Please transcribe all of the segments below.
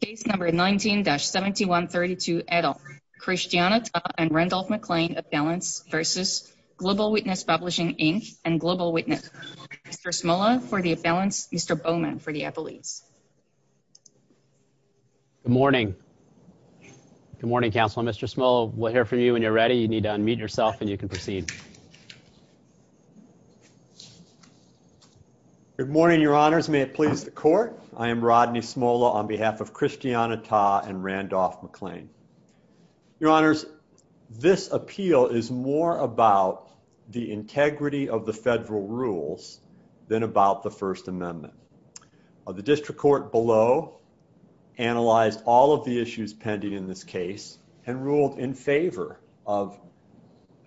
Case number 19-7132 et al. Christiana Tah and Randolph McClain Appellants v. Global Witness Publishing, Inc. and Global Witness. Mr. Smola for the appellants, Mr. Bowman for the appellates. Good morning. Good morning, Counselor. Mr. Smola, we'll hear from you when you're ready. You need to unmute yourself and you can proceed. Good morning, Your Honors. May it please the Court. I am Rodney Smola on behalf of Christiana Tah and Randolph McClain. Your Honors, this appeal is more about the integrity of the federal rules than about the First Amendment. The District Court below analyzed all of the issues pending in this case and ruled in favor of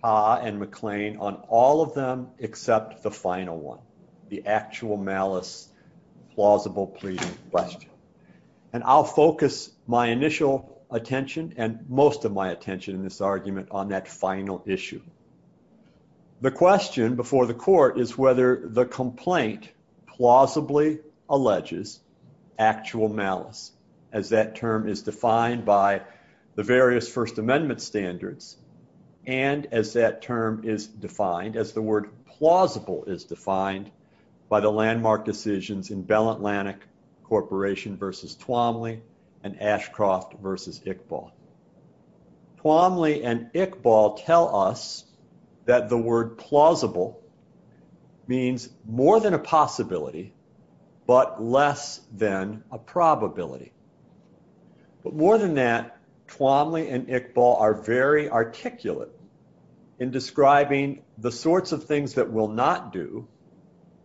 Tah and McClain on all of them except the final one, the actual malice plausible pleading question. And I'll focus my initial attention and most of my attention in this argument on that final issue. The question before the Court is whether the complaint plausibly alleges actual malice as that term is defined by the various First Amendment standards and as that term is defined, as the word plausible is defined by the landmark decisions in Bell Atlantic Corporation v. Twomley and Ashcroft v. Iqbal. Twomley and Iqbal tell us that the word plausible means more than a possibility but less than a probability. But more than that, Twomley and Iqbal are very articulate in describing the sorts of things that will not do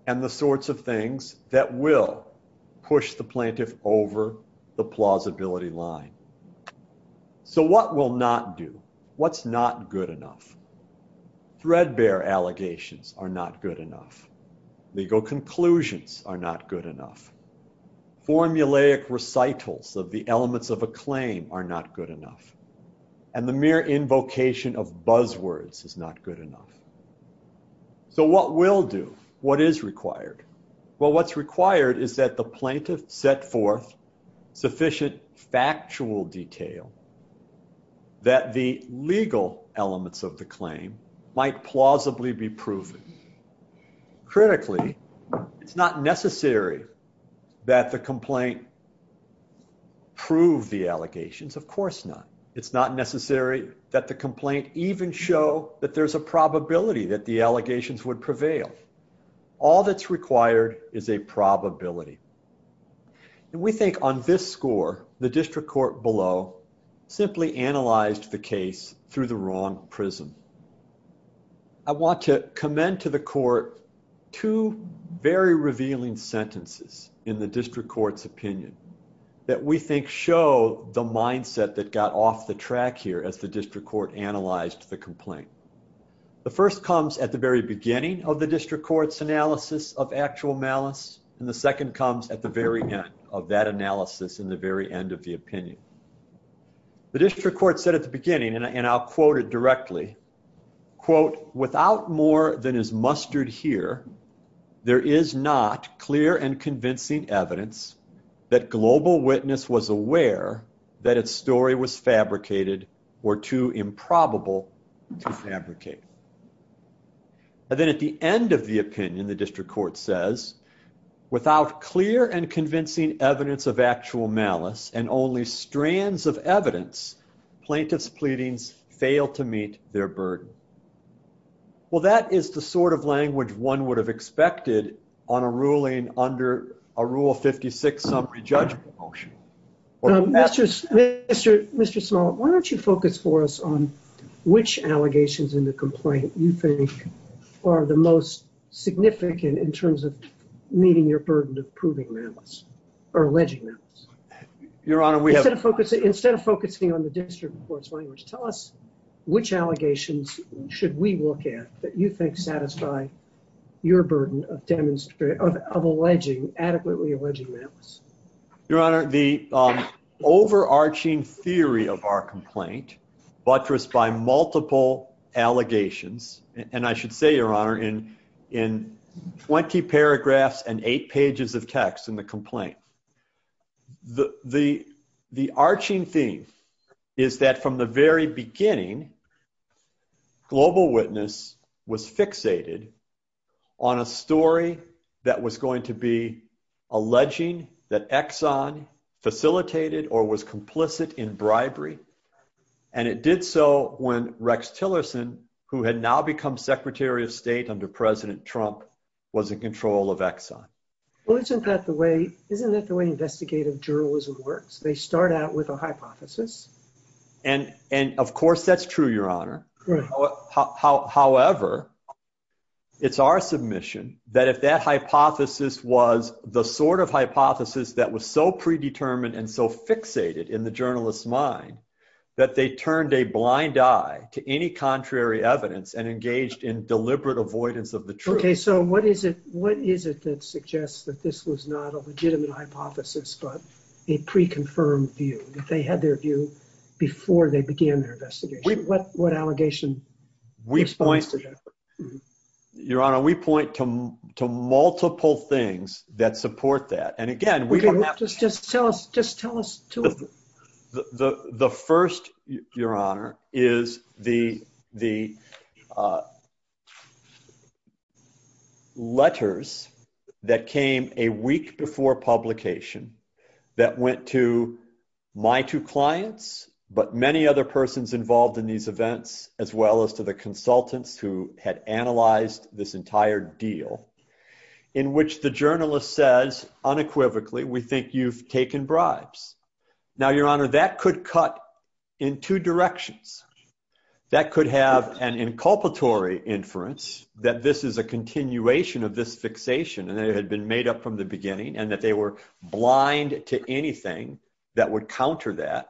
and the sorts of things that will push the plaintiff over the plausibility line. So what will not do? What's not good enough? Threadbare allegations are not good enough. Legal conclusions are not good enough. Formulaic recitals of the elements of a claim are not good enough. And the mere invocation of buzzwords is not good enough. So what will do? What is required? Well, what's required is that the plaintiff set forth sufficient factual detail that the legal elements of the claim might plausibly be proven. Critically, it's not necessary that the complaint prove the allegations. Of course not. It's not necessary that the complaint even show that there's a probability that the allegations would prevail. All that's required is a probability. And we think on this score, the district court below simply analyzed the case through the wrong prism. I want to commend to the court two very revealing sentences in the district court's opinion that we think show the mindset that got off the track here as the district court analyzed the complaint. The first comes at the very beginning of the district court's analysis of actual malice, and the second comes at the very end of that analysis in the very end of the opinion. The district court said at the beginning, and I'll quote it directly, quote, without more than is mustered here, there is not clear and convincing evidence that Global Witness was aware that its story was fabricated or too improbable to fabricate. And then at the end of the opinion, the district court says, without clear and convincing evidence of actual malice and only strands of evidence, plaintiff's pleadings fail to meet their burden. Well, that is the sort of language one would have expected on a ruling under a Rule 56 summary judgment motion. Mr. Small, why don't you focus for us on which allegations in the complaint you think are the most significant in terms of meeting your burden of proving malice or alleging malice? Instead of focusing on the district court's language, tell us which allegations should we look at that you think satisfy your burden of adequately alleging malice? Your Honor, the overarching theory of our complaint, buttressed by multiple allegations, and I should say, Your Honor, in 20 paragraphs and eight pages of text in the complaint, the arching theme is that from the very beginning, Global Witness was fixated on a story that was going to be alleging that Exxon facilitated or was complicit in bribery, and it did so when Rex Tillerson, who had now become Secretary of State under President Trump, was in control of Exxon. Well, isn't that the way investigative journalism works? They start out with a hypothesis. And, of course, that's true, Your Honor. However, it's our submission that if that hypothesis was the sort of hypothesis that was so predetermined and so fixated in the journalist's mind that they turned a blind eye to any contrary evidence and engaged in deliberate avoidance of the truth. Okay, so what is it that suggests that this was not a legitimate hypothesis but a pre-confirmed view, that they had their view before they began their investigation? What allegation responds to that? Your Honor, we point to multiple things that support that. Just tell us two of them. The first, Your Honor, is the letters that came a week before publication that went to my two clients but many other persons involved in these events as well as to the consultants who had analyzed this entire deal in which the journalist says unequivocally, we think you've taken bribes. Now, Your Honor, that could cut in two directions. That could have an inculpatory inference that this is a continuation of this fixation and that it had been made up from the beginning and that they were blind to anything that would counter that.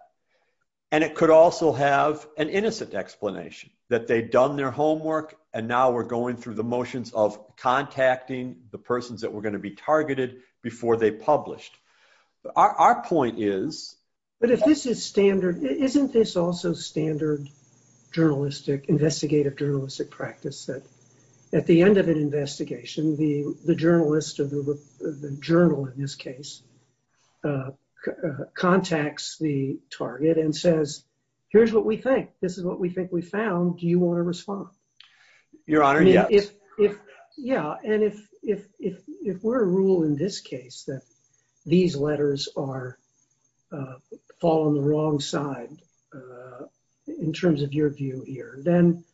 And it could also have an innocent explanation, that they'd done their homework and now we're going through the motions of contacting the persons that were going to be targeted before they published. Our point is... But if this is standard, isn't this also standard investigative journalistic practice that at the end of an investigation, the journalist or the journal in this case contacts the target and says, here's what we think. This is what we think we found. Do you want to respond? Your Honor, yes. Yeah, and if we're a rule in this case that these letters fall on the wrong side in terms of your view here, then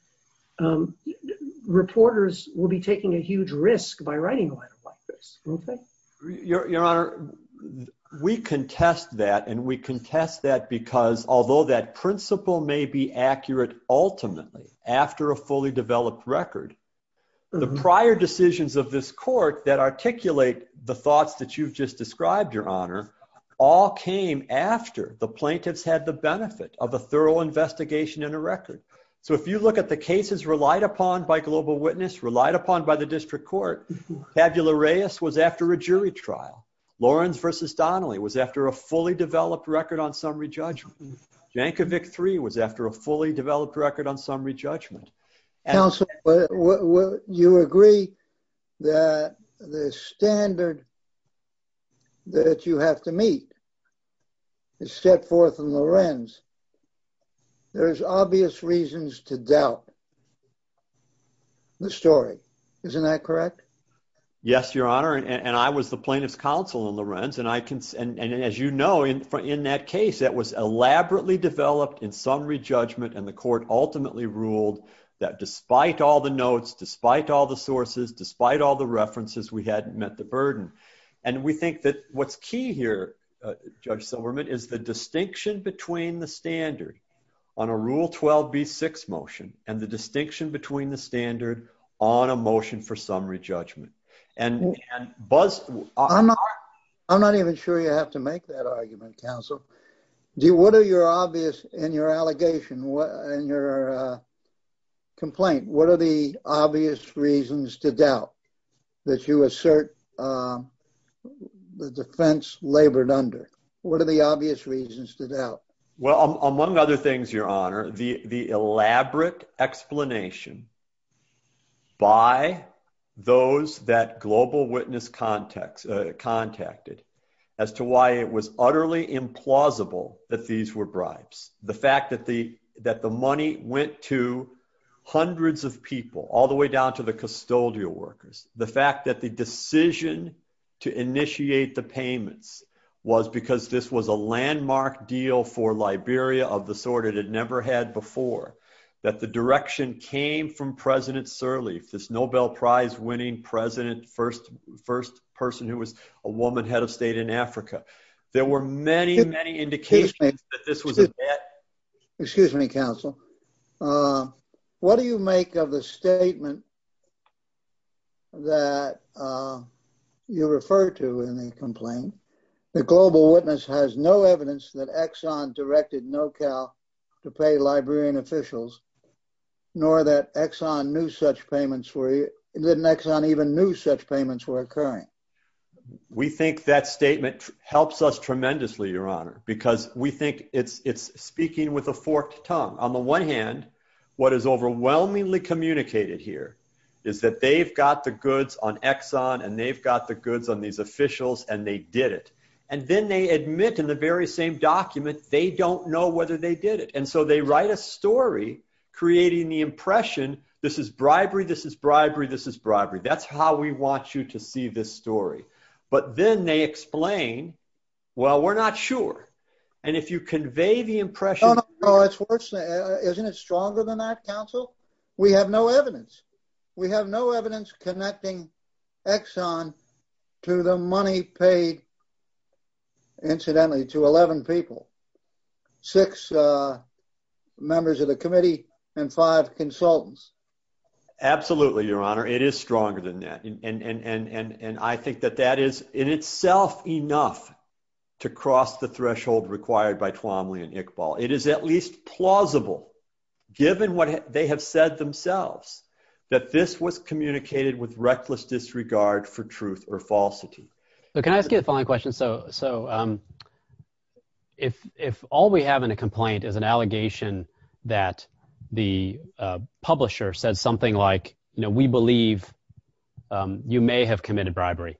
reporters will be taking a huge risk by writing a letter like this, won't they? Your Honor, we contest that, and we contest that because although that principle may be accurate ultimately after a fully developed record, the prior decisions of this court that articulate the thoughts that you've just described, Your Honor, all came after the plaintiffs had the benefit of a thorough investigation and a record. So if you look at the cases relied upon by Global Witness, relied upon by the district court, Fabula Reyes was after a jury trial. Lawrence v. Donnelly was after a fully developed record on summary judgment. Jankovic 3 was after a fully developed record on summary judgment. Counsel, you agree that the standard that you have to meet is set forth in Lawrence. There's obvious reasons to doubt the story. Isn't that correct? Yes, Your Honor, and I was the plaintiff's counsel in Lawrence, and as you know, in that case, that was elaborately developed in summary judgment, and the court ultimately ruled that despite all the notes, despite all the sources, despite all the references, we hadn't met the burden. And we think that what's key here, Judge Silverman, is the distinction between the standard on a rule 12B6 motion and the distinction between the standard on a motion for summary judgment. I'm not even sure you have to make that argument, counsel. What are your obvious, in your allegation, in your complaint, what are the obvious reasons to doubt that you assert the defense labored under? What are the obvious reasons to doubt? Well, among other things, Your Honor, the elaborate explanation by those that Global Witness contacted as to why it was utterly implausible that these were bribes, the fact that the money went to hundreds of people, all the way down to the custodial workers, the fact that the decision to initiate the payments was because this was a landmark deal for Liberia of the sort it had never had before, that the direction came from President Sirleaf, this Nobel Prize winning president, first person who was a woman head of state in Africa. There were many, many indications that this was a bet. Excuse me, counsel. What do you make of the statement that you refer to in the complaint, that Global Witness has no evidence that Exxon directed NoCal to pay Liberian officials, nor that Exxon knew such payments were, that Exxon even knew such payments were occurring? We think that statement helps us tremendously, Your Honor, because we think it's speaking with a forked tongue. On the one hand, what is overwhelmingly communicated here is that they've got the goods on Exxon and they've got the goods on these officials and they did it. And then they admit in the very same document they don't know whether they did it. And so they write a story creating the impression this is bribery, this is bribery, this is bribery. That's how we want you to see this story. But then they explain, well, we're not sure. And if you convey the impression... No, no, no. Isn't it stronger than that, counsel? We have no evidence. We have no evidence connecting Exxon to the money paid, incidentally, to 11 people, six members of the committee and five consultants. Absolutely, Your Honor. It is stronger than that. And I think that that is in itself enough to cross the threshold required by Twomley and Iqbal. It is at least plausible, given what they have said themselves, that this was communicated with reckless disregard for truth or falsity. Can I ask you the following question? So if all we have in a complaint is an allegation that the publisher said something like, you know, we believe you may have committed bribery,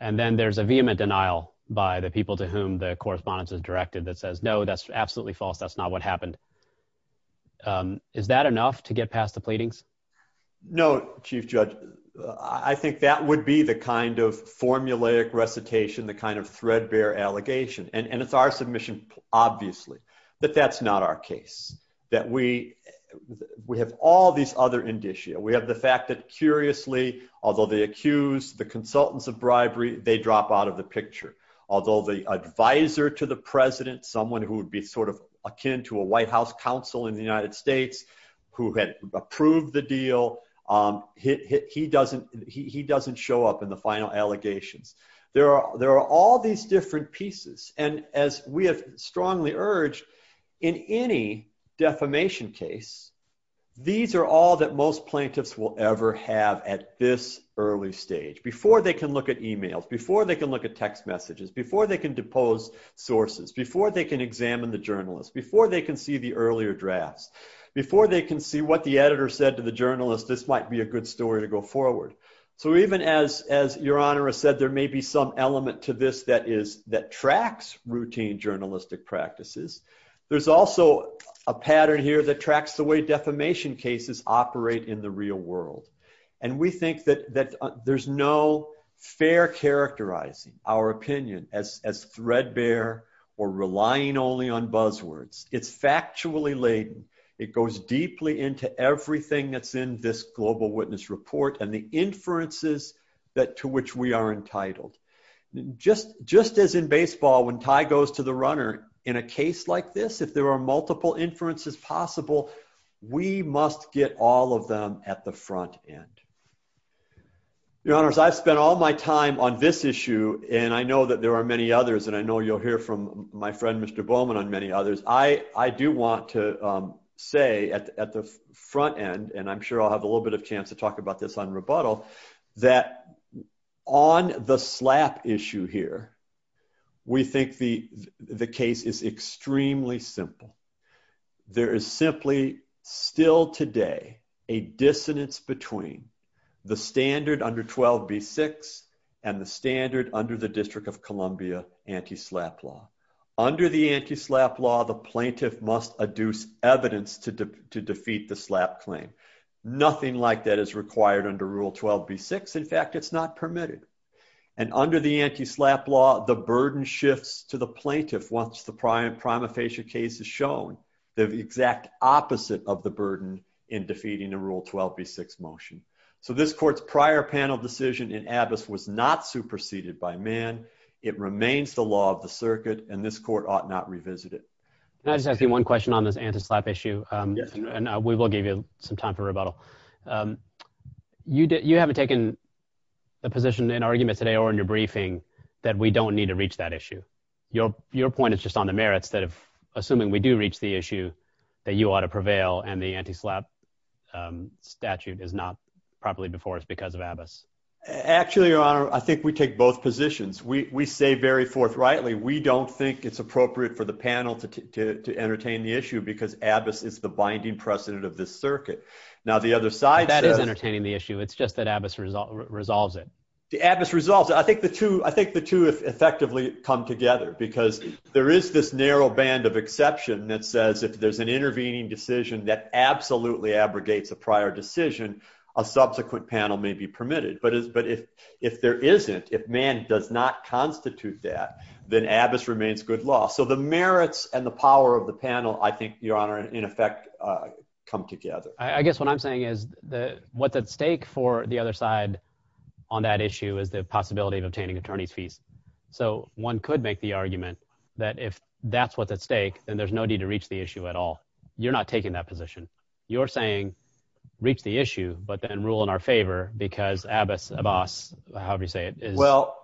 and then there's a vehement denial by the people to whom the correspondence is directed that says, no, that's absolutely false, that's not what happened. Is that enough to get past the pleadings? No, Chief Judge. I think that would be the kind of formulaic recitation, the kind of threadbare allegation. And it's our submission, obviously, that that's not our case. That we have all these other indicia. We have the fact that curiously, although they accused the consultants of bribery, they drop out of the picture. Although the advisor to the president, someone who would be sort of akin to a White House counsel in the United States, who had approved the deal, he doesn't show up in the final allegations. There are all these different pieces. And as we have strongly urged, in any defamation case, these are all that most plaintiffs will ever have at this early stage, before they can look at e-mails, before they can look at text messages, before they can depose sources, before they can examine the journalist, before they can see the earlier drafts, before they can see what the editor said to the journalist, this might be a good story to go forward. So even as Your Honor has said, there may be some element to this that tracks routine journalistic practices. There's also a pattern here that tracks the way defamation cases operate in the real world. And we think that there's no fair characterizing our opinion as threadbare or relying only on buzzwords. It's factually laden. It goes deeply into everything that's in this Global Witness Report and the inferences to which we are entitled. Just as in baseball, when Ty goes to the runner, in a case like this, if there are multiple inferences possible, we must get all of them at the front end. Your Honors, I've spent all my time on this issue, and I know that there are many others, and I know you'll hear from my friend Mr. Bowman on many others. I do want to say at the front end, and I'm sure I'll have a little bit of a chance to talk about this on rebuttal, that on the slap issue here, we think the case is extremely simple. There is simply still today a dissonance between the standard under 12b-6 and the standard under the District of Columbia anti-slap law. Under the anti-slap law, the plaintiff must adduce evidence to defeat the slap claim. Nothing like that is required under Rule 12b-6. In fact, it's not permitted. And under the anti-slap law, the burden shifts to the plaintiff once the prima facie case is shown, the exact opposite of the burden in defeating a Rule 12b-6 motion. So this court's prior panel decision in Abbess was not superseded by Mann. It remains the law of the circuit, and this court ought not revisit it. Can I just ask you one question on this anti-slap issue? Yes. And we will give you some time for rebuttal. You haven't taken a position in argument today or in your briefing that we don't need to reach that issue. Your point is just on the merits that if, assuming we do reach the issue, that you ought to prevail and the anti-slap statute is not properly before us because of Abbess. Actually, Your Honor, I think we take both positions. We say very forthrightly we don't think it's appropriate for the panel to entertain the issue because Abbess is the binding precedent of this circuit. Now, the other side says – That is entertaining the issue. It's just that Abbess resolves it. Abbess resolves it. I think the two effectively come together because there is this narrow band of exception that says if there's an intervening decision that absolutely abrogates a prior decision, a subsequent panel may be permitted. But if there isn't, if Mann does not constitute that, then Abbess remains good law. So the merits and the power of the panel, I think, Your Honor, in effect come together. I guess what I'm saying is what's at stake for the other side on that issue is the possibility of obtaining attorney's fees. So one could make the argument that if that's what's at stake, then there's no need to reach the issue at all. You're not taking that position. You're saying reach the issue, but then rule in our favor because Abbess, Abbass, however you say it,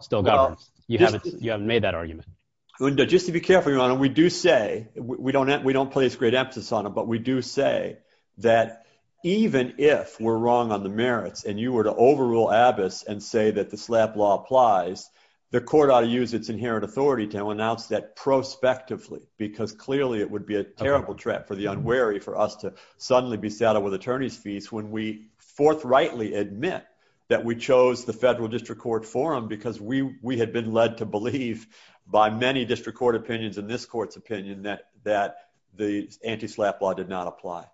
still governs. You haven't made that argument. Just to be careful, Your Honor, we do say – we don't place great emphasis on it, but we do say that even if we're wrong on the merits and you were to overrule Abbess and say that the SLAPP law applies, the court ought to use its inherent authority to announce that prospectively because clearly it would be a terrible trap for the unwary for us to suddenly be saddled with attorney's fees when we forthrightly admit that we chose the federal district court forum because we had been led to believe by many district court opinions and this court's opinion that the anti-SLAPP law did not apply.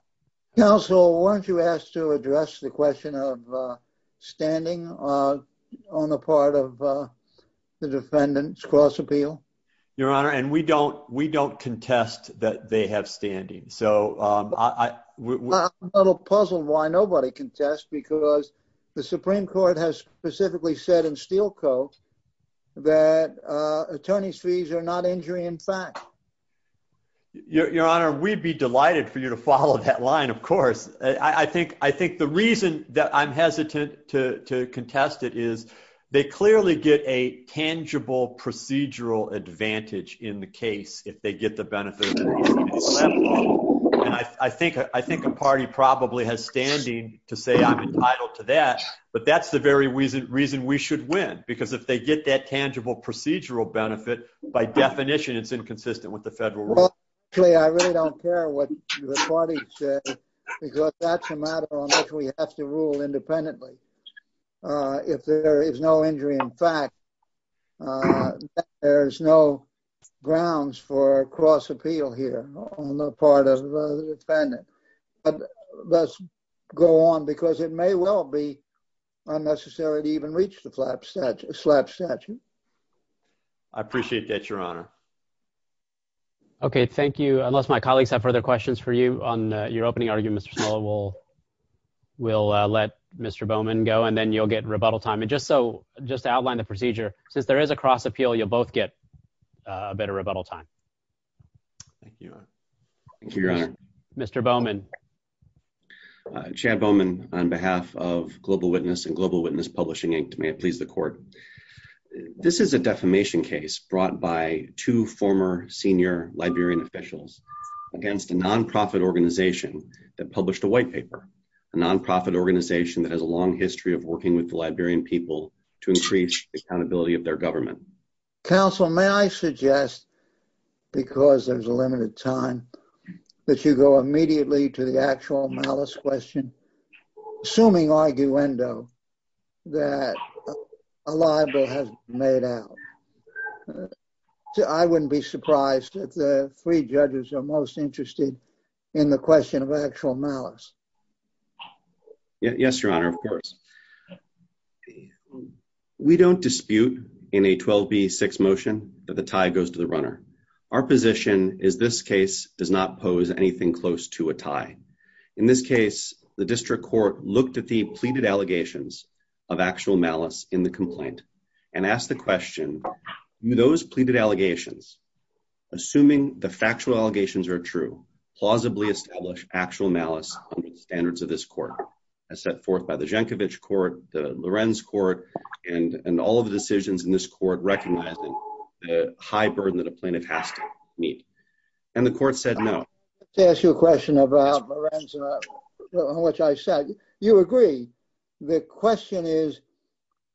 Counsel, weren't you asked to address the question of standing on the part of the defendants cross-appeal? Your Honor, and we don't contest that they have standing. I'm a little puzzled why nobody contests because the Supreme Court has specifically said in Steel Co. that attorney's fees are not injury in fact. Your Honor, we'd be delighted for you to follow that line, of course. I think the reason that I'm hesitant to contest it is they clearly get a tangible procedural advantage in the case if they get the benefit of the SLAPP law. I think a party probably has standing to say I'm entitled to that but that's the very reason we should win because if they get that tangible procedural benefit, by definition it's inconsistent with the federal rule. Actually, I really don't care what the party says because that's a matter on which we have to rule independently. If there is no injury in fact, there's no grounds for cross-appeal here on the part of the defendant. Let's go on because it may well be unnecessary to even reach the SLAPP statute. I appreciate that, Your Honor. Okay, thank you. Unless my colleagues have further questions for you on your opening argument, we'll let Mr. Bowman go and then you'll get rebuttal time. Just to outline the procedure, since there is a cross-appeal, you'll both get a bit of rebuttal time. Thank you, Your Honor. Thank you, Your Honor. Mr. Bowman. Chad Bowman on behalf of Global Witness and Global Witness Publishing Inc. May it please the court. This is a defamation case brought by two former senior Liberian officials against a non-profit organization that published a white paper, a non-profit organization that has a long history of working with the Liberian people to increase the accountability of their government. Counsel, may I suggest, because there's a limited time, that you go immediately to the actual malice question, assuming arguendo, that a libel has been made out. I wouldn't be surprised if the three judges are most interested in the question of actual malice. Yes, Your Honor, of course. We don't dispute in a 12B6 motion that the tie goes to the runner. Our position is this case does not pose anything close to a tie. In this case, the district court looked at the pleaded allegations of actual malice in the complaint and asked the question, those pleaded allegations, assuming the factual allegations are true, plausibly establish actual malice under the standards of this court as set forth by the Jenkovich court, the Lorenz court, and all of the decisions in this court recognizing the high burden that a plaintiff has to meet. And the court said no. To ask you a question about Lorenz, which I said, you agree. The question is,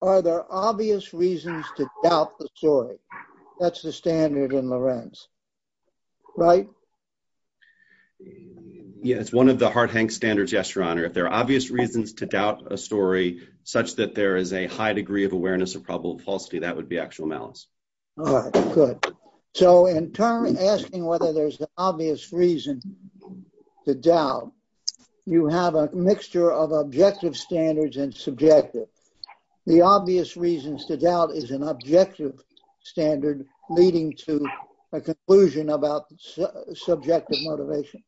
are there obvious reasons to doubt the story? That's the standard in Lorenz, right? Yes, it's one of the hard-hanged standards, yes, Your Honor. If there are obvious reasons to doubt a story such that there is a high degree of awareness of probable falsity, that would be actual malice. All right, good. So in turn, asking whether there's an obvious reason to doubt, you have a mixture of objective standards and subjective. The obvious reasons to doubt is an objective standard leading to a conclusion about subjective motivation.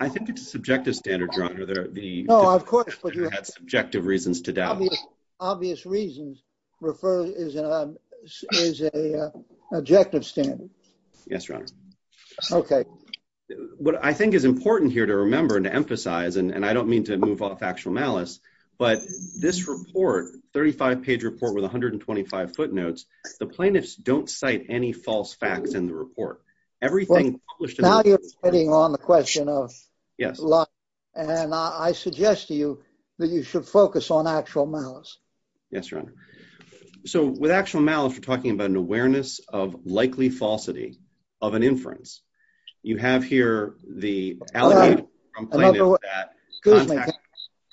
I think it's a subjective standard, Your Honor. No, of course. You had subjective reasons to doubt. Obvious reasons is an objective standard. Yes, Your Honor. Okay. What I think is important here to remember and to emphasize, and I don't mean to move off actual malice, but this report, 35-page report with 125 footnotes, the plaintiffs don't cite any false facts in the report. Everything published in the report — Now you're getting on the question of — Yes. And I suggest to you that you should focus on actual malice. Yes, Your Honor. So with actual malice, you're talking about an awareness of likely falsity of an inference. You have here the allegation from plaintiffs that — Excuse me.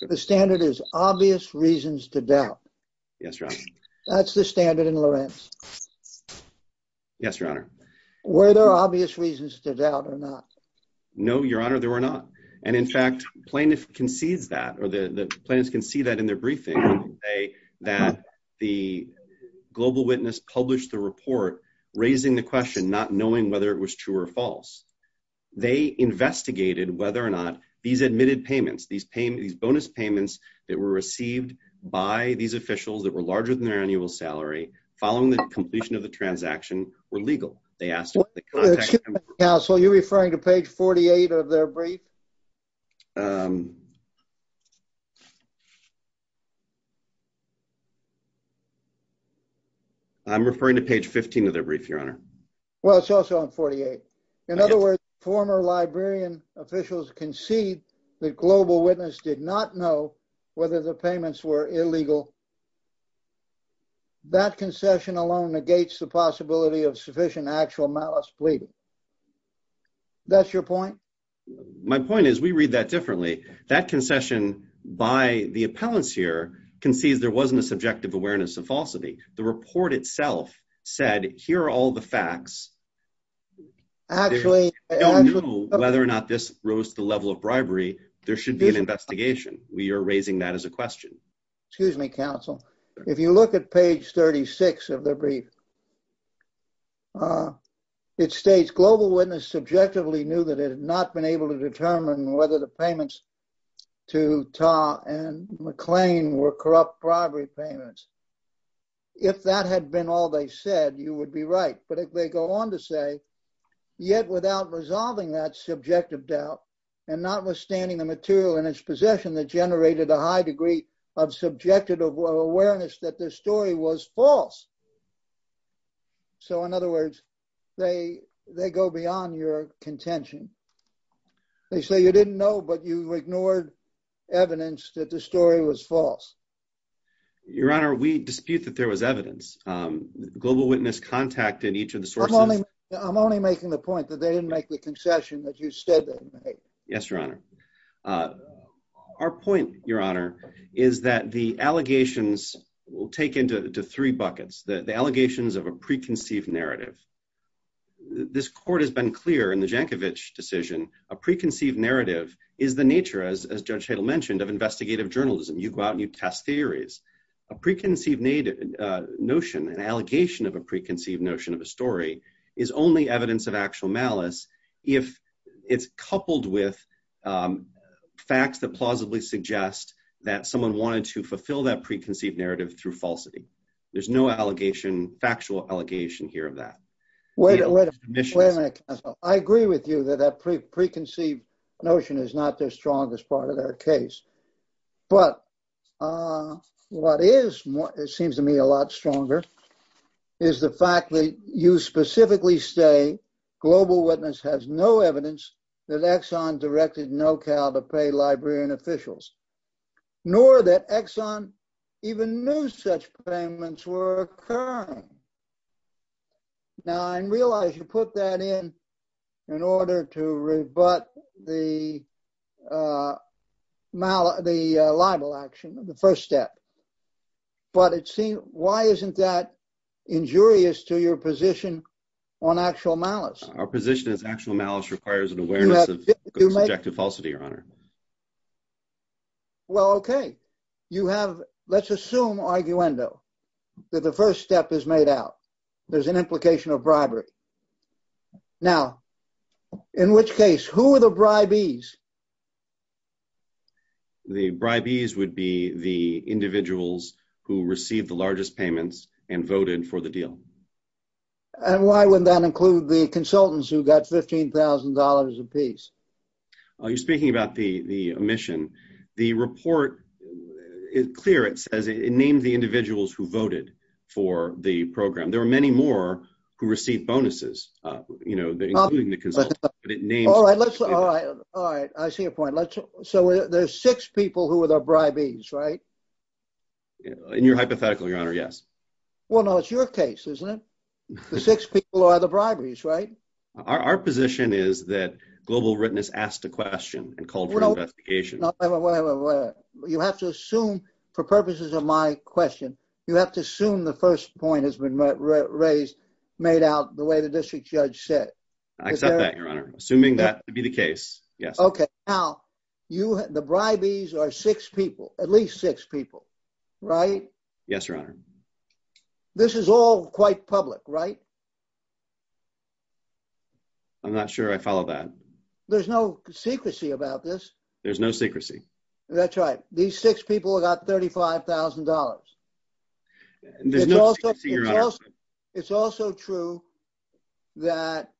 The standard is obvious reasons to doubt. Yes, Your Honor. That's the standard in Lorenz. Yes, Your Honor. Were there obvious reasons to doubt or not? No, Your Honor, there were not. And in fact, plaintiffs concedes that, or the plaintiffs concede that in their briefing, that the global witness published the report raising the question, not knowing whether it was true or false. They investigated whether or not these admitted payments, these bonus payments that were received by these officials that were larger than their annual salary, following the completion of the transaction, were legal. They asked — Excuse me, counsel, are you referring to page 48 of their brief? I'm referring to page 15 of their brief, Your Honor. Well, it's also on 48. In other words, former librarian officials concede that global witness did not know whether the payments were illegal. That concession alone negates the possibility of sufficient actual malice pleading. That's your point? My point is we read that differently. That concession by the appellants here concedes there wasn't a subjective awareness of falsity. The report itself said, here are all the facts. Actually — They don't know whether or not this rose to the level of bribery. There should be an investigation. We are raising that as a question. Excuse me, counsel. If you look at page 36 of their brief, it states global witness subjectively knew that it had not been able to determine whether the payments to Ta and McLean were corrupt bribery payments. If that had been all they said, you would be right. But if they go on to say, yet without resolving that subjective doubt and notwithstanding the material in its possession that generated a high degree of subjective awareness that their story was false. So, in other words, they go beyond your contention. They say you didn't know, but you ignored evidence that the story was false. Your Honor, we dispute that there was evidence. Global witness contacted each of the sources — I'm only making the point that they didn't make the concession that you said they didn't make. Yes, Your Honor. Our point, Your Honor, is that the allegations will take into three buckets. The allegations of a preconceived narrative. This court has been clear in the Jankovich decision. A preconceived narrative is the nature, as Judge Hadle mentioned, of investigative journalism. You go out and you test theories. A preconceived notion, an allegation of a preconceived notion of a story, is only evidence of actual malice if it's coupled with facts that plausibly suggest that someone wanted to fulfill that preconceived narrative through falsity. There's no allegation, factual allegation here of that. Wait a minute, counsel. I agree with you that that preconceived notion is not the strongest part of their case. But what is, it seems to me, a lot stronger, is the fact that you specifically say global witness has no evidence that Exxon directed NoCal to pay librarian officials, nor that Exxon even knew such payments were occurring. Now, I realize you put that in in order to rebut the libel action, the first step. But why isn't that injurious to your position on actual malice? Our position is actual malice requires an awareness of subjective falsity, Your Honor. Well, okay. You have, let's assume, arguendo, that the first step is made out. There's an implication of bribery. Now, in which case, who are the bribees? The bribees would be the individuals who received the largest payments and voted for the deal. And why would that include the consultants who got $15,000 apiece? You're speaking about the omission. The report is clear. It says it named the individuals who voted for the program. There were many more who received bonuses, you know, including the consultants. All right, I see your point. So there's six people who are the bribees, right? In your hypothetical, Your Honor, yes. Well, no, it's your case, isn't it? The six people are the bribees, right? Our position is that global witness asked a question and called for investigation. Well, you have to assume, for purposes of my question, you have to assume the first point has been raised, made out the way the district judge said. I accept that, Your Honor. Assuming that to be the case, yes. Okay, now, the bribees are six people, at least six people, right? Yes, Your Honor. This is all quite public, right? I'm not sure I follow that. There's no secrecy about this. There's no secrecy. That's right. These six people got $35,000. There's no secrecy, Your Honor. It's also true that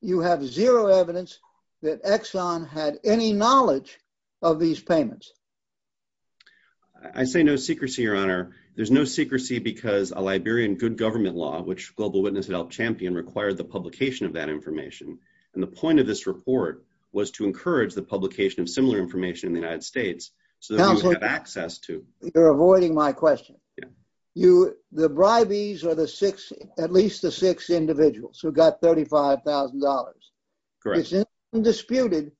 you have zero evidence that Exxon had any knowledge of these payments. I say no secrecy, Your Honor. There's no secrecy because a Liberian good government law, which Global Witness helped champion, required the publication of that information. And the point of this report was to encourage the publication of similar information in the United States so that we would have access to. You're avoiding my question. The bribees are at least the six individuals who got $35,000. Correct. It's undisputed,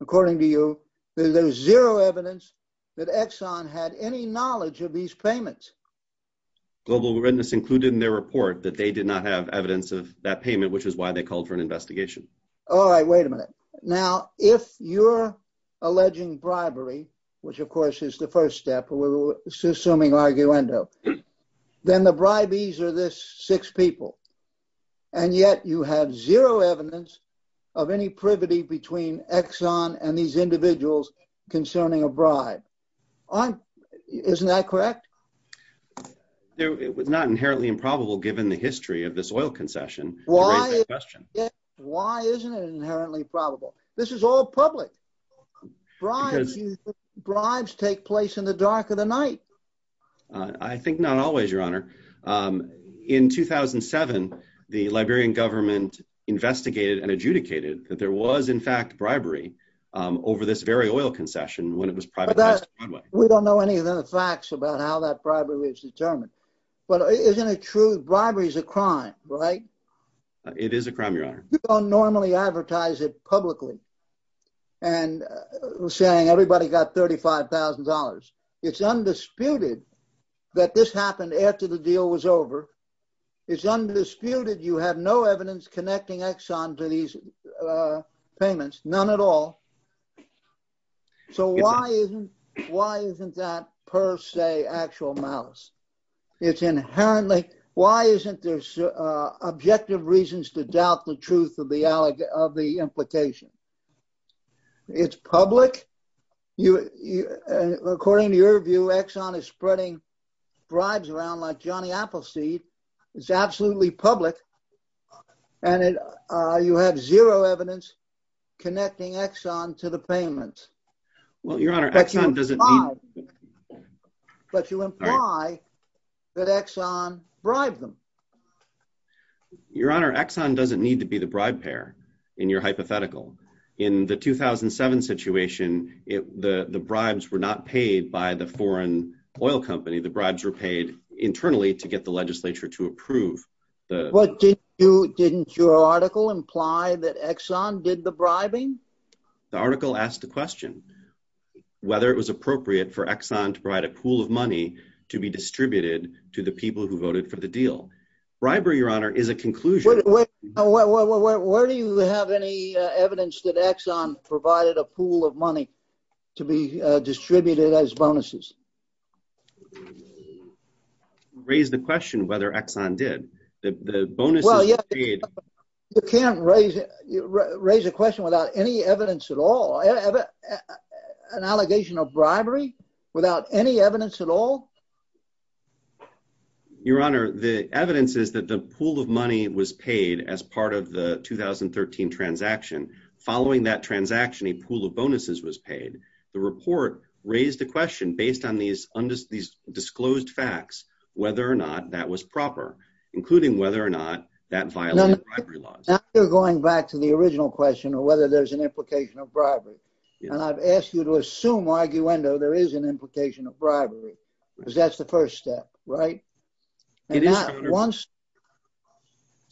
according to you, that there's zero evidence that Exxon had any knowledge of these payments. Global Witness included in their report that they did not have evidence of that payment, which is why they called for an investigation. All right, wait a minute. Now, if you're alleging bribery, which of course is the first step, we're assuming arguendo, then the bribees are this six people. And yet you have zero evidence of any privity between Exxon and these individuals concerning a bribe. Isn't that correct? It was not inherently improbable, given the history of this oil concession. Why isn't it inherently probable? This is all public. Bribes take place in the dark of the night. I think not always, Your Honor. In 2007, the Liberian government investigated and adjudicated that there was in fact bribery over this very oil concession when it was privatized. We don't know any of the facts about how that bribery was determined. But isn't it true, bribery is a crime, right? It is a crime, Your Honor. You don't normally advertise it publicly and saying everybody got $35,000. It's undisputed that this happened after the deal was over. It's undisputed. You have no evidence connecting Exxon to these payments, none at all. So why isn't that per se actual malice? It's inherently... Objective reasons to doubt the truth of the implication. It's public. According to your view, Exxon is spreading bribes around like Johnny Appleseed. It's absolutely public. And you have zero evidence connecting Exxon to the payments. Well, Your Honor, Exxon doesn't mean... But you imply that Exxon bribed them. Your Honor, Exxon doesn't need to be the bribe payer, in your hypothetical. In the 2007 situation, the bribes were not paid by the foreign oil company. The bribes were paid internally to get the legislature to approve. But didn't your article imply that Exxon did the bribing? The article asked the question whether it was appropriate for Exxon to provide a pool of money to be distributed to the people who voted for the deal. Bribery, Your Honor, is a conclusion. Where do you have any evidence that Exxon provided a pool of money to be distributed as bonuses? You raised the question whether Exxon did. The bonuses were paid... You can't raise a question without any evidence at all. An allegation of bribery without any evidence at all? Your Honor, the evidence is that the pool of money was paid as part of the 2013 transaction. Following that transaction, a pool of bonuses was paid. The report raised the question based on these disclosed facts whether or not that was proper, including whether or not that violated bribery laws. Now you're going back to the original question of whether there's an implication of bribery. And I've asked you to assume, arguendo, there is an implication of bribery. Because that's the first step, right? You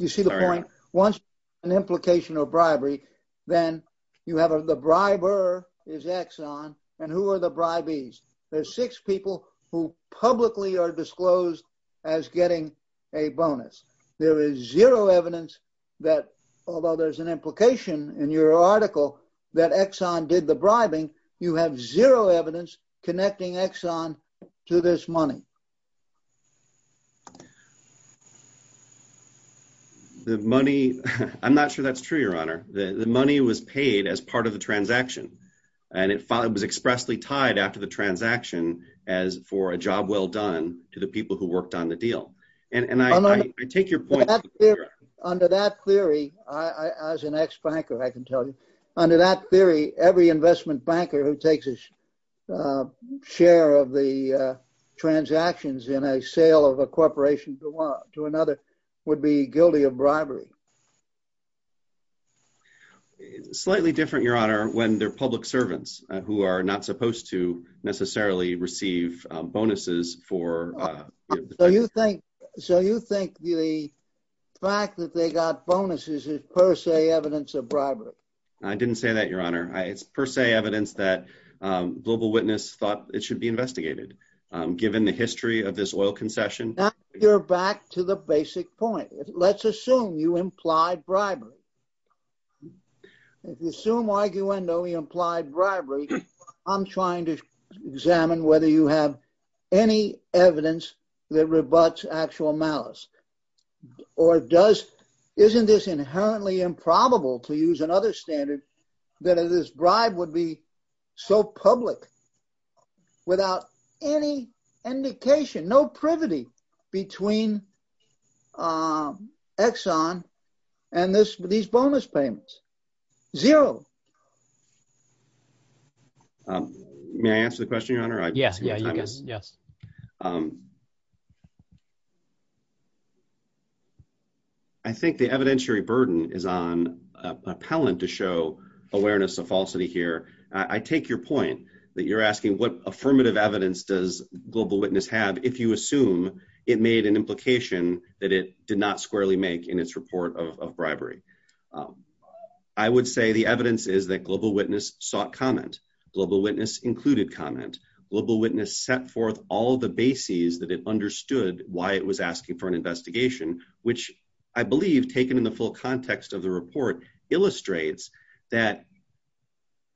see the point? Once an implication of bribery, then you have the briber is Exxon. And who are the bribees? There's six people who publicly are disclosed as getting a bonus. There is zero evidence that although there's an implication in your article that Exxon did the bribing, you have zero evidence connecting Exxon to this money. The money, I'm not sure that's true, Your Honor. The money was paid as part of the transaction. And it was expressly tied after the transaction as for a job well done to the people who worked on the deal. And I take your point. Under that theory, as an ex-banker, I can tell you, under that theory, every investment banker who takes a share of the transactions in a sale of a corporation to another would be guilty of bribery. Slightly different, Your Honor, when they're public servants who are not supposed to necessarily receive bonuses for... So you think the fact that they got bonuses is per se evidence of bribery? I didn't say that, Your Honor. It's per se evidence that Global Witness thought it should be investigated, given the history of this oil concession. Now you're back to the basic point. Let's assume you implied bribery. If you assume arguably implied bribery, I'm trying to examine whether you have any evidence that rebuts actual malice. Or doesn't this inherently improbable to use another standard that this bribe would be so public without any indication, no privity between Exxon and these bonus payments? Zero. May I answer the question, Your Honor? Yes. Yes. I think the evidentiary burden is on appellant to show awareness of falsity here. I take your point that you're asking what affirmative evidence does Global Witness have if you assume it made an implication that it did not squarely make in its report of bribery. I would say the evidence is that Global Witness sought comment. Global Witness included comment. Global Witness set forth all the bases that it understood why it was asking for an investigation, which I believe, taken in the full context of the report, illustrates that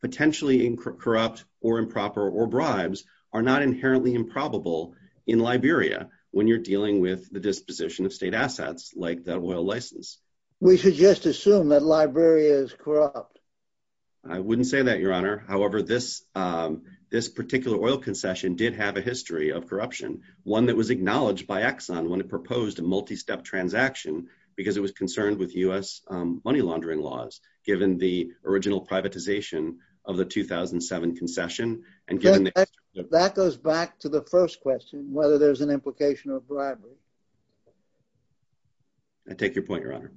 potentially corrupt or improper or bribes are not inherently improbable in Liberia when you're dealing with the disposition of state assets like the oil license. We should just assume that Liberia is corrupt. I wouldn't say that, Your Honor. However, this particular oil concession did have a history of corruption, one that was acknowledged by Exxon when it proposed a multi-step transaction because it was concerned with U.S. money laundering laws given the original privatization of the 2007 concession and given the... That goes back to the first question, whether there's an implication of bribery. I take your point, Your Honor.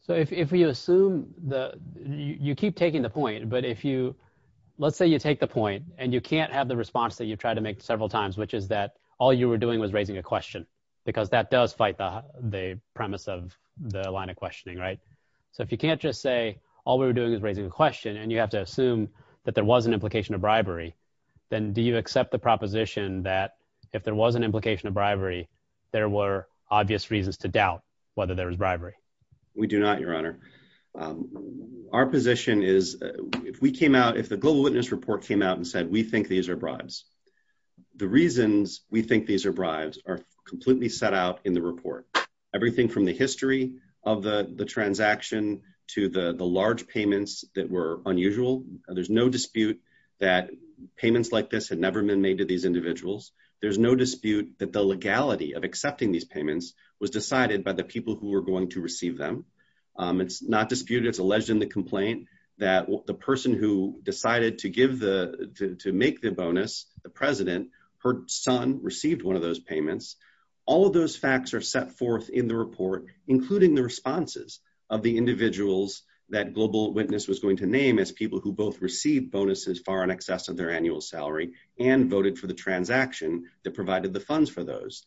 So if you assume the... You keep taking the point, but if you... Let's say you take the point and you can't have the response that you've tried to make several times, which is that all you were doing was raising a question because that does fight the premise of the line of questioning, right? So if you can't just say, all we were doing is raising a question and you have to assume that there was an implication of bribery, then do you accept the proposition that if there was an implication of bribery, there were obvious reasons to doubt whether there was bribery? We do not, Your Honor. Our position is if we came out... If the Global Witness report came out and said, we think these are bribes, the reasons we think these are bribes are completely set out in the report. Everything from the history of the transaction to the large payments that were unusual, there's no dispute that payments like this had never been made to these individuals. There's no dispute that the legality of accepting these payments was decided by the people who were going to receive them. It's not disputed. It's alleged in the complaint that the person who decided to give the... To make the bonus, the president, her son received one of those payments. All of those facts are set forth in the report, including the responses of the individuals that Global Witness was going to name as people who both received bonuses far in excess of their annual salary and voted for the transaction that provided the funds for those.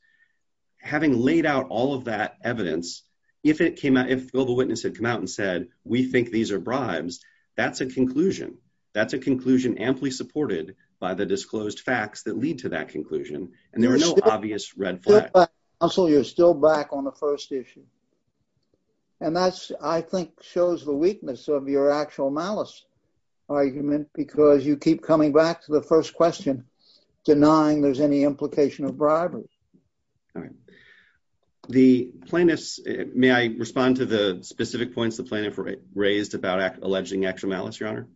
Having laid out all of that evidence, if it came out... If Global Witness had come out and said, we think these are bribes, that's a conclusion. That's a conclusion amply supported by the disclosed facts that lead to that conclusion. And there are no obvious red flags. So you're still back on the first issue. And that's, I think, shows the weakness of your actual malice argument because you keep coming back to the first question, denying there's any implication of bribery. All right. The plaintiffs... May I respond to the specific points the plaintiff raised about alleging actual malice, Your Honor?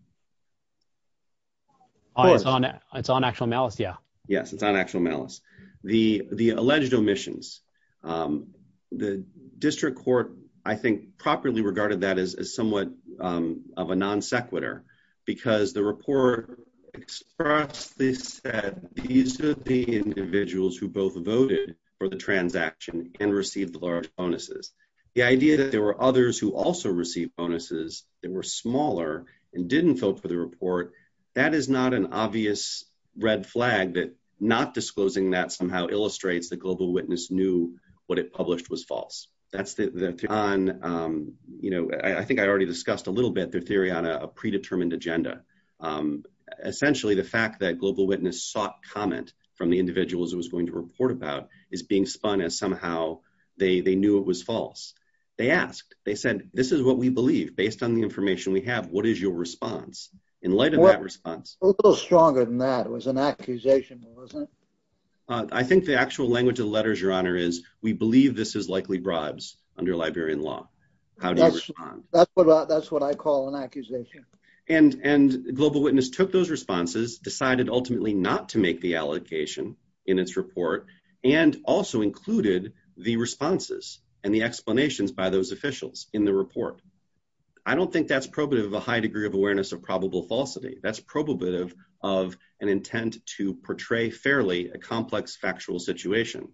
It's on actual malice, yeah. Yes, it's on actual malice. The alleged omissions. The district court, I think, properly regarded that as somewhat of a non sequitur because the report expressly said, these are the individuals who both voted for the transaction and received the large bonuses. The idea that there were others who also received bonuses that were smaller and didn't vote for the report, that is not an obvious red flag that not disclosing that somehow illustrates that Global Witness knew what it published was false. That's the theory on, you know, I think I already discussed a little bit the theory on a predetermined agenda. Essentially, the fact that Global Witness sought comment from the individuals it was going to report about is being spun as somehow they knew it was false. They asked, they said, this is what we believe based on the information we have. What is your response in light of that response? A little stronger than that was an accusation, wasn't it? I think the actual language of the letters, Your Honor, is we believe this is likely bribes under Liberian law. How do you respond? That's what I call an accusation. And Global Witness took those responses, decided ultimately not to make the allocation in its report, and also included the responses and the explanations by those officials in the report. I don't think that's probative of a high degree of awareness of probable falsity. That's probative of an intent to portray fairly a complex factual situation.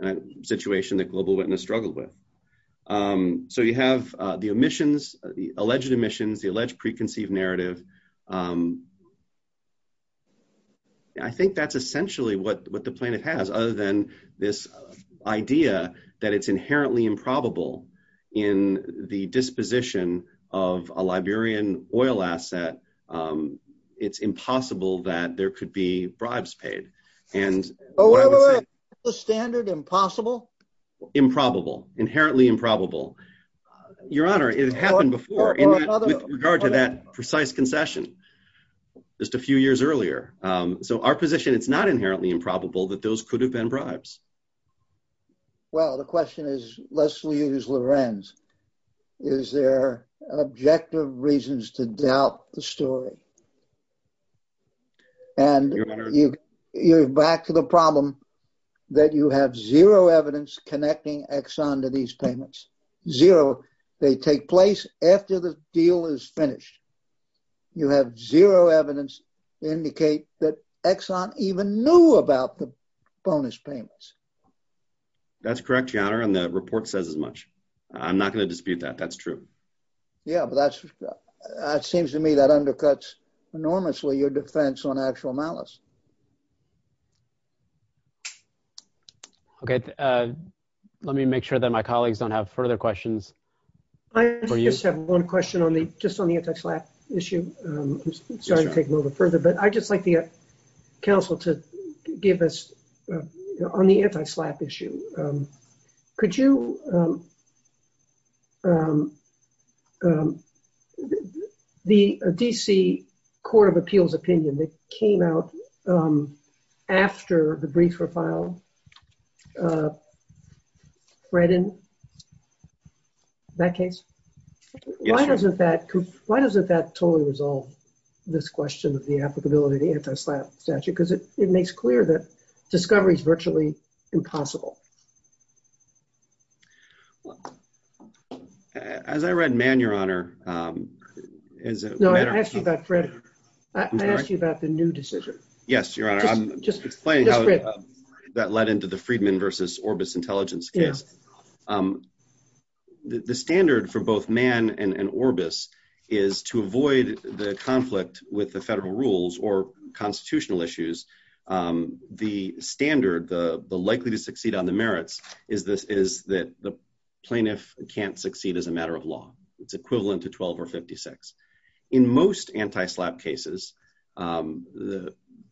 A situation that Global Witness struggled with. So you have the omissions, the alleged omissions, the alleged preconceived narrative. I think that's essentially what the plaintiff has, other than this idea that it's inherently improbable in the disposition of a Liberian oil asset that it's impossible that there could be bribes paid. And what I would say... Wait, wait, wait. Isn't the standard impossible? Improbable. Inherently improbable. Your Honor, it happened before with regard to that precise concession just a few years earlier. So our position, it's not inherently improbable that those could have been bribes. Well, the question is, lest we use Lorenz, is there an objective reason to doubt the story? And you're back to the problem that you have zero evidence connecting Exxon to these payments. Zero. They take place after the deal is finished. You have zero evidence indicate that Exxon even knew about the bonus payments. That's correct, Your Honor. And the report says as much. I'm not going to dispute that. That's true. Yeah, but that seems to me that undercuts enormously your defense on actual malice. Okay. Let me make sure that my colleagues don't have further questions. I just have one question just on the anti-SLAPP issue. I'm sorry to take them over further, but I'd just like the counsel to give us on the anti-SLAPP issue. Could you... The D.C. Court of Appeals opinion that came out after the brief for file read in that case? Yes, Your Honor. Why doesn't that totally resolve this question of the applicability of the anti-SLAPP statute? Because it makes clear that it's absolutely impossible. As I read Mann, Your Honor... No, I asked you about Fred. I asked you about the new decision. Yes, Your Honor. I'm just explaining how that led into the Friedman versus Orbis intelligence case. The standard for both Mann and Orbis is to avoid the conflict with the federal rules or constitutional issues. The standard, the likely to succeed on the merits is that the plaintiff can't succeed as a matter of law. It's equivalent to 12 or 56. In most anti-SLAPP cases,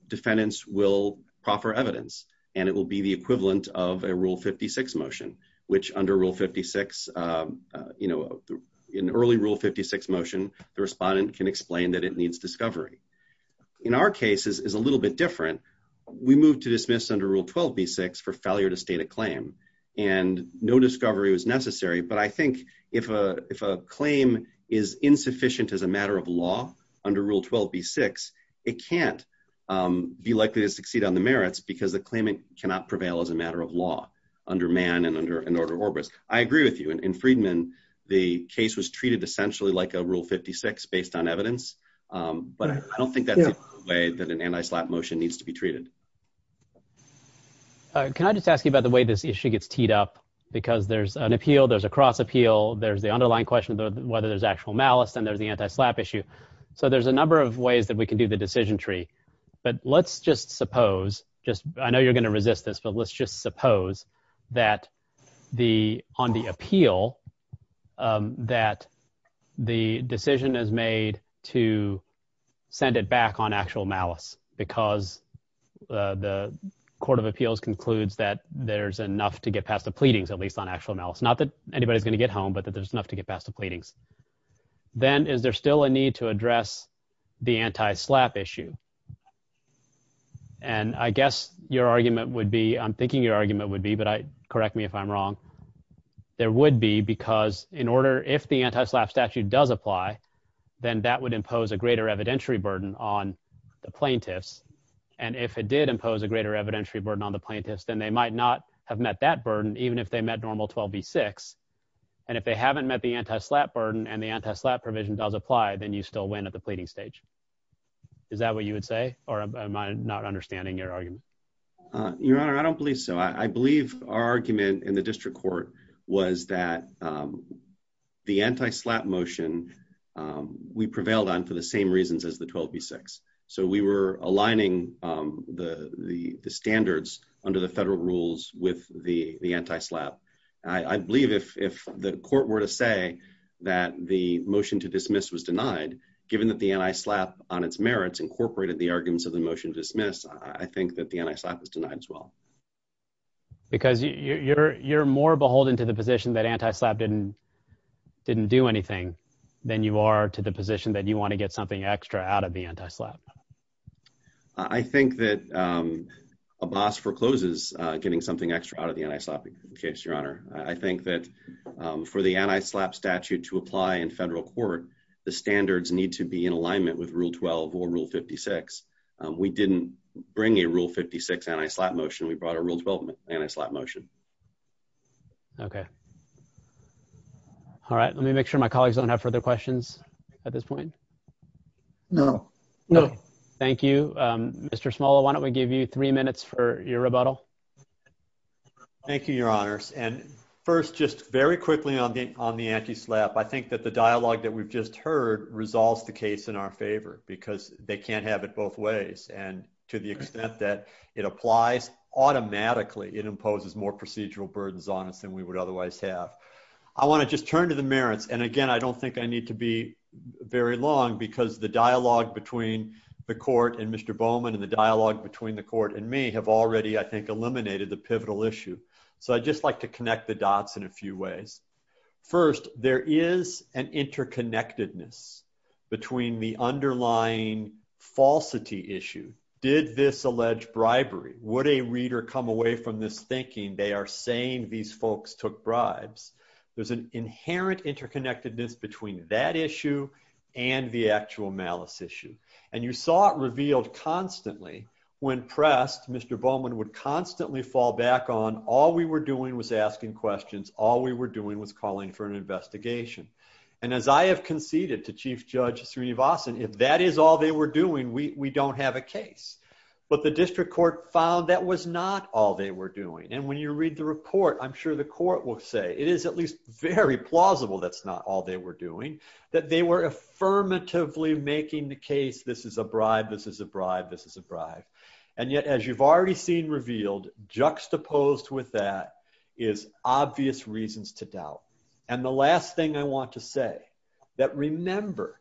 defendants will proffer evidence, and it will be the equivalent of a Rule 56 motion, which under Rule 56, in early Rule 56 motion, the respondent can explain that it needs discovery. In our case, it's a little bit different. We moved to dismiss under Rule 12b6 for failure to state a claim, and no discovery was necessary, but I think if a claim is insufficient as a matter of law under Rule 12b6, it can't be likely to succeed on the merits because the claimant cannot prevail as a matter of law under Mann and under Orbis. I agree with you. In Friedman, the case was treated essentially like a Rule 56 based on evidence, but I don't think that's the way that an anti-SLAPP motion needs to be treated. Can I just ask you about the way this issue gets teed up because there's an appeal, there's a cross-appeal, there's the underlying question of whether there's actual malice, and there's the anti-SLAPP issue, so there's a number of ways that we can do the decision tree, but let's just suppose, I know you're going to resist this, but let's just suppose that on the appeal that the decision is made to send it back on actual malice because the Court of Appeals concludes that there's enough to get past the pleadings at least on actual malice, not that anybody's going to get home, but that there's enough to get past the pleadings. Then is there still a need to address the anti-SLAPP issue? And I guess your argument would be, I'm thinking your argument would be, but correct me if I'm wrong, there would be because in order, if the anti-SLAPP statute does apply, then that would impose a greater evidentiary burden on the plaintiffs, and if it did impose a greater evidentiary burden on the plaintiffs, then they might not have met that burden even if they met Normal 12b-6, and if they haven't met the anti-SLAPP burden and the anti-SLAPP provision does apply, then you still win at the pleading stage. Is that what you would say, or am I not understanding your argument? Your Honor, I don't believe so. I believe our argument in the district court was that the anti-SLAPP motion we prevailed on for the same reasons as the 12b-6, so we were aligning the standards under the federal rules with the anti-SLAPP. I believe if the court were to say that the motion to dismiss was denied, given that the anti-SLAPP on its merits incorporated the arguments of the motion to dismiss, I think that the anti-SLAPP was denied as well. Because you're more beholden to the position that anti-SLAPP didn't do anything. Then you are to the position that you want to get something extra out of the anti-SLAPP. I think that Abbas forecloses getting something extra out of the anti-SLAPP case, Your Honor. I think that for the anti-SLAPP statute to apply in federal court, the standards need to be in alignment with Rule 12 or Rule 56. We didn't bring a Rule 56 anti-SLAPP motion, we brought a Rule 12 anti-SLAPP motion. Okay. All right, let me make sure my colleagues don't have further questions at this point. No. No. Thank you. Mr. Smola, why don't we give you three minutes for your rebuttal? Thank you, Your Honors. And first, just very quickly on the anti-SLAPP, I think that the dialogue that we've just heard resolves the case in our favor because they can't have it both ways. And to the extent that it applies automatically, it imposes more procedural burdens on us than we would otherwise have. I want to just turn to the merits and again, I don't think I need to be very long because the dialogue between the court and Mr. Bowman and the dialogue between the court and me have already, I think, eliminated the pivotal issue. So I'd just like to connect the dots in a few ways. First, there is an interconnectedness between the underlying falsity issue. Did this allege bribery? Would a reader come away from this thinking they are saying these folks took bribes? There's an inherent interconnectedness between that issue and the actual malice issue. And you saw it revealed constantly when pressed, Mr. Bowman would constantly fall back on all we were doing was asking questions, all we were doing was calling for an investigation. And as I have conceded to Chief Judge Srinivasan, if that is all they were doing, we don't have a case. But the district court found that was not all they were doing. And when you read the report, I'm sure the court will say that it is at least very plausible that's not all they were doing, that they were affirmatively making the case, this is a bribe, this is a bribe, this is a bribe. And yet, as you've already seen revealed, juxtaposed with that is obvious reasons to doubt. And the last thing I want to say that remember,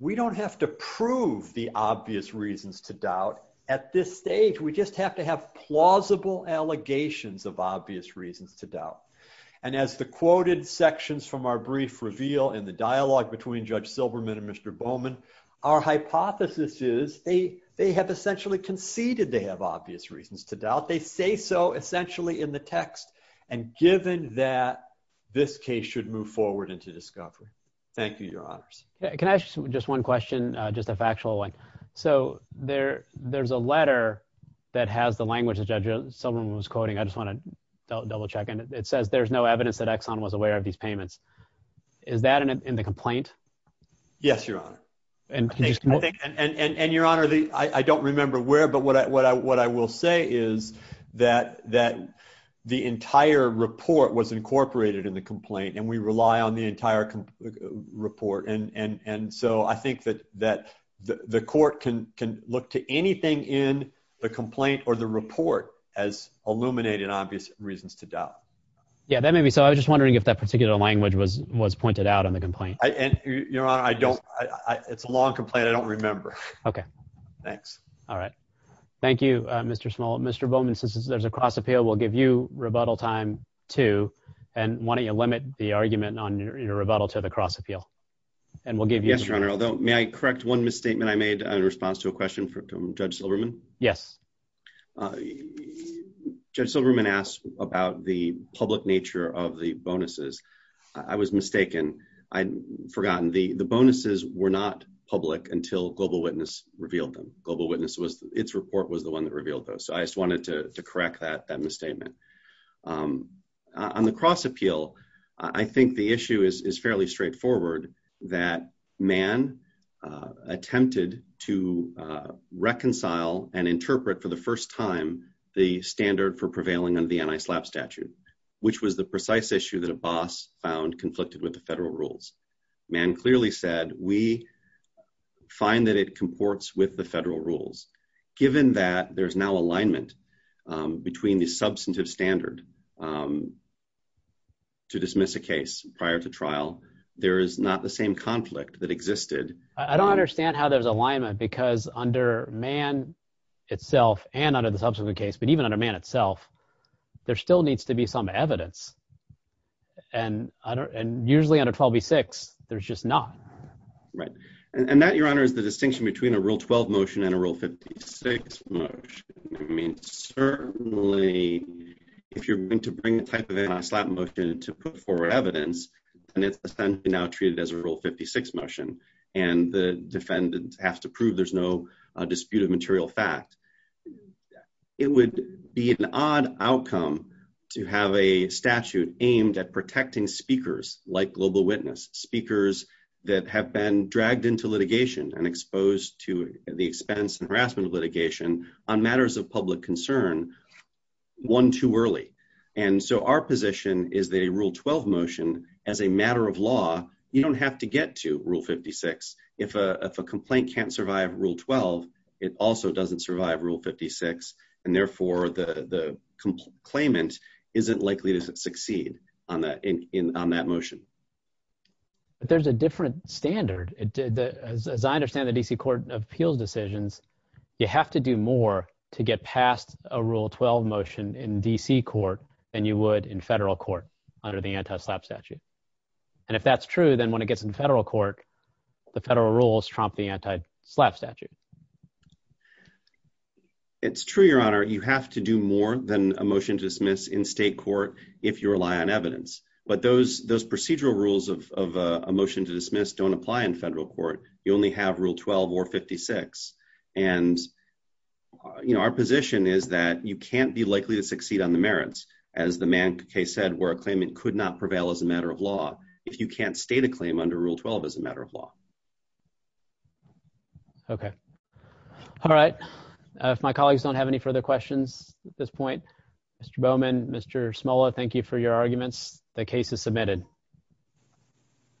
we don't have to prove the obvious reasons to doubt. At this stage, we just have to have plausible allegations of obvious reasons to doubt. And as the quoted sections from our brief reveal in the dialogue between Judge Silberman and Mr. Bowman, our hypothesis is they have essentially conceded they have obvious reasons to doubt. They say so essentially in the text. And given that, this case should move forward into discovery. Thank you, Your Honors. Can I ask you just one question, just a factual one. So there's a letter that has the language that Judge Silberman was quoting. I just want to double check. And it says there's no evidence that Exxon was aware of these payments. Is that in the complaint? Yes, Your Honor. And Your Honor, I don't remember where, but what I will say is that the entire report was incorporated in the complaint and we rely on the entire report. And so I think that the court can look to anything in the complaint or the report as illuminating obvious reasons to doubt. Yeah, that may be so. I was just wondering if that particular language was pointed out in the complaint. And Your Honor, I don't, it's a long complaint. I don't remember. Okay. Thanks. All right. Thank you, Mr. Small. Mr. Bowman, since there's a cross appeal, we'll give you rebuttal time too. And why don't you limit the argument on your rebuttal to the cross appeal. And we'll give you. Yes, Your Honor. Although may I correct one misstatement I made in response to a question from Judge Silberman? Yes. Judge Silberman asked about the public nature of the bonuses. I was mistaken. I'd forgotten. The bonuses were not public until Global Witness revealed them. Global Witness was, its report was the one that revealed those. So I just wanted to correct that, that misstatement. On the cross appeal, I think the issue is fairly straightforward that man attempted to reconcile and interpret for the first time the standard for prevailing under the anti-slap statute, which was the precise issue that a boss found conflicted with the federal rules. Man clearly said, we find that it comports with the federal rules. Given that there's now alignment between the substantive standard to dismiss a case prior to trial, there is not the same conflict that existed. I don't understand how there's alignment because under man itself and under the subsequent case, but even under man itself, there still needs to be some evidence. And usually under 12b-6, there's just not. Right. And that, Your Honor, is the distinction between a Rule 12 motion and a Rule 56 motion. I mean, certainly, if you're going to bring the type of anti-slap motion to put forward evidence, then it's essentially now treated as a Rule 56 motion. And the defendant has to prove there's no dispute of material fact. It would be an odd outcome to have a statute aimed at protecting speakers like Global Witness, speakers that have been dragged into litigation and exposed to the expense and harassment of litigation on matters of public concern one too early. And so our position is that a Rule 12 motion, as a matter of law, you don't have to get to Rule 56. If a complaint can't survive Rule 12, it also doesn't survive Rule 56, and therefore the claimant isn't likely to succeed on that motion. There's a different standard. As I understand the D.C. Court of Appeals decisions, you have to do more to get past a Rule 12 motion in D.C. court than you would in federal court under the anti-slap statute. And if that's true, then when it gets in federal court, the federal rules trump the anti-slap statute. It's true, Your Honor. You have to do more than a motion to dismiss in state court if you rely on evidence. But those procedural rules of a motion to dismiss don't apply in federal court. You only have Rule 12 or 56. And, you know, our position is that you can't be likely to succeed on the merits, as the Mann case said, where a claimant could not prevail as a matter of law. If you can't stay the claim under Rule 12 as a matter of law. Okay. All right. If my colleagues don't have any further questions at this point, Mr. Bowman, Mr. Smola, thank you for your arguments. The case is submitted. Thank you, Your Honor. Thank you.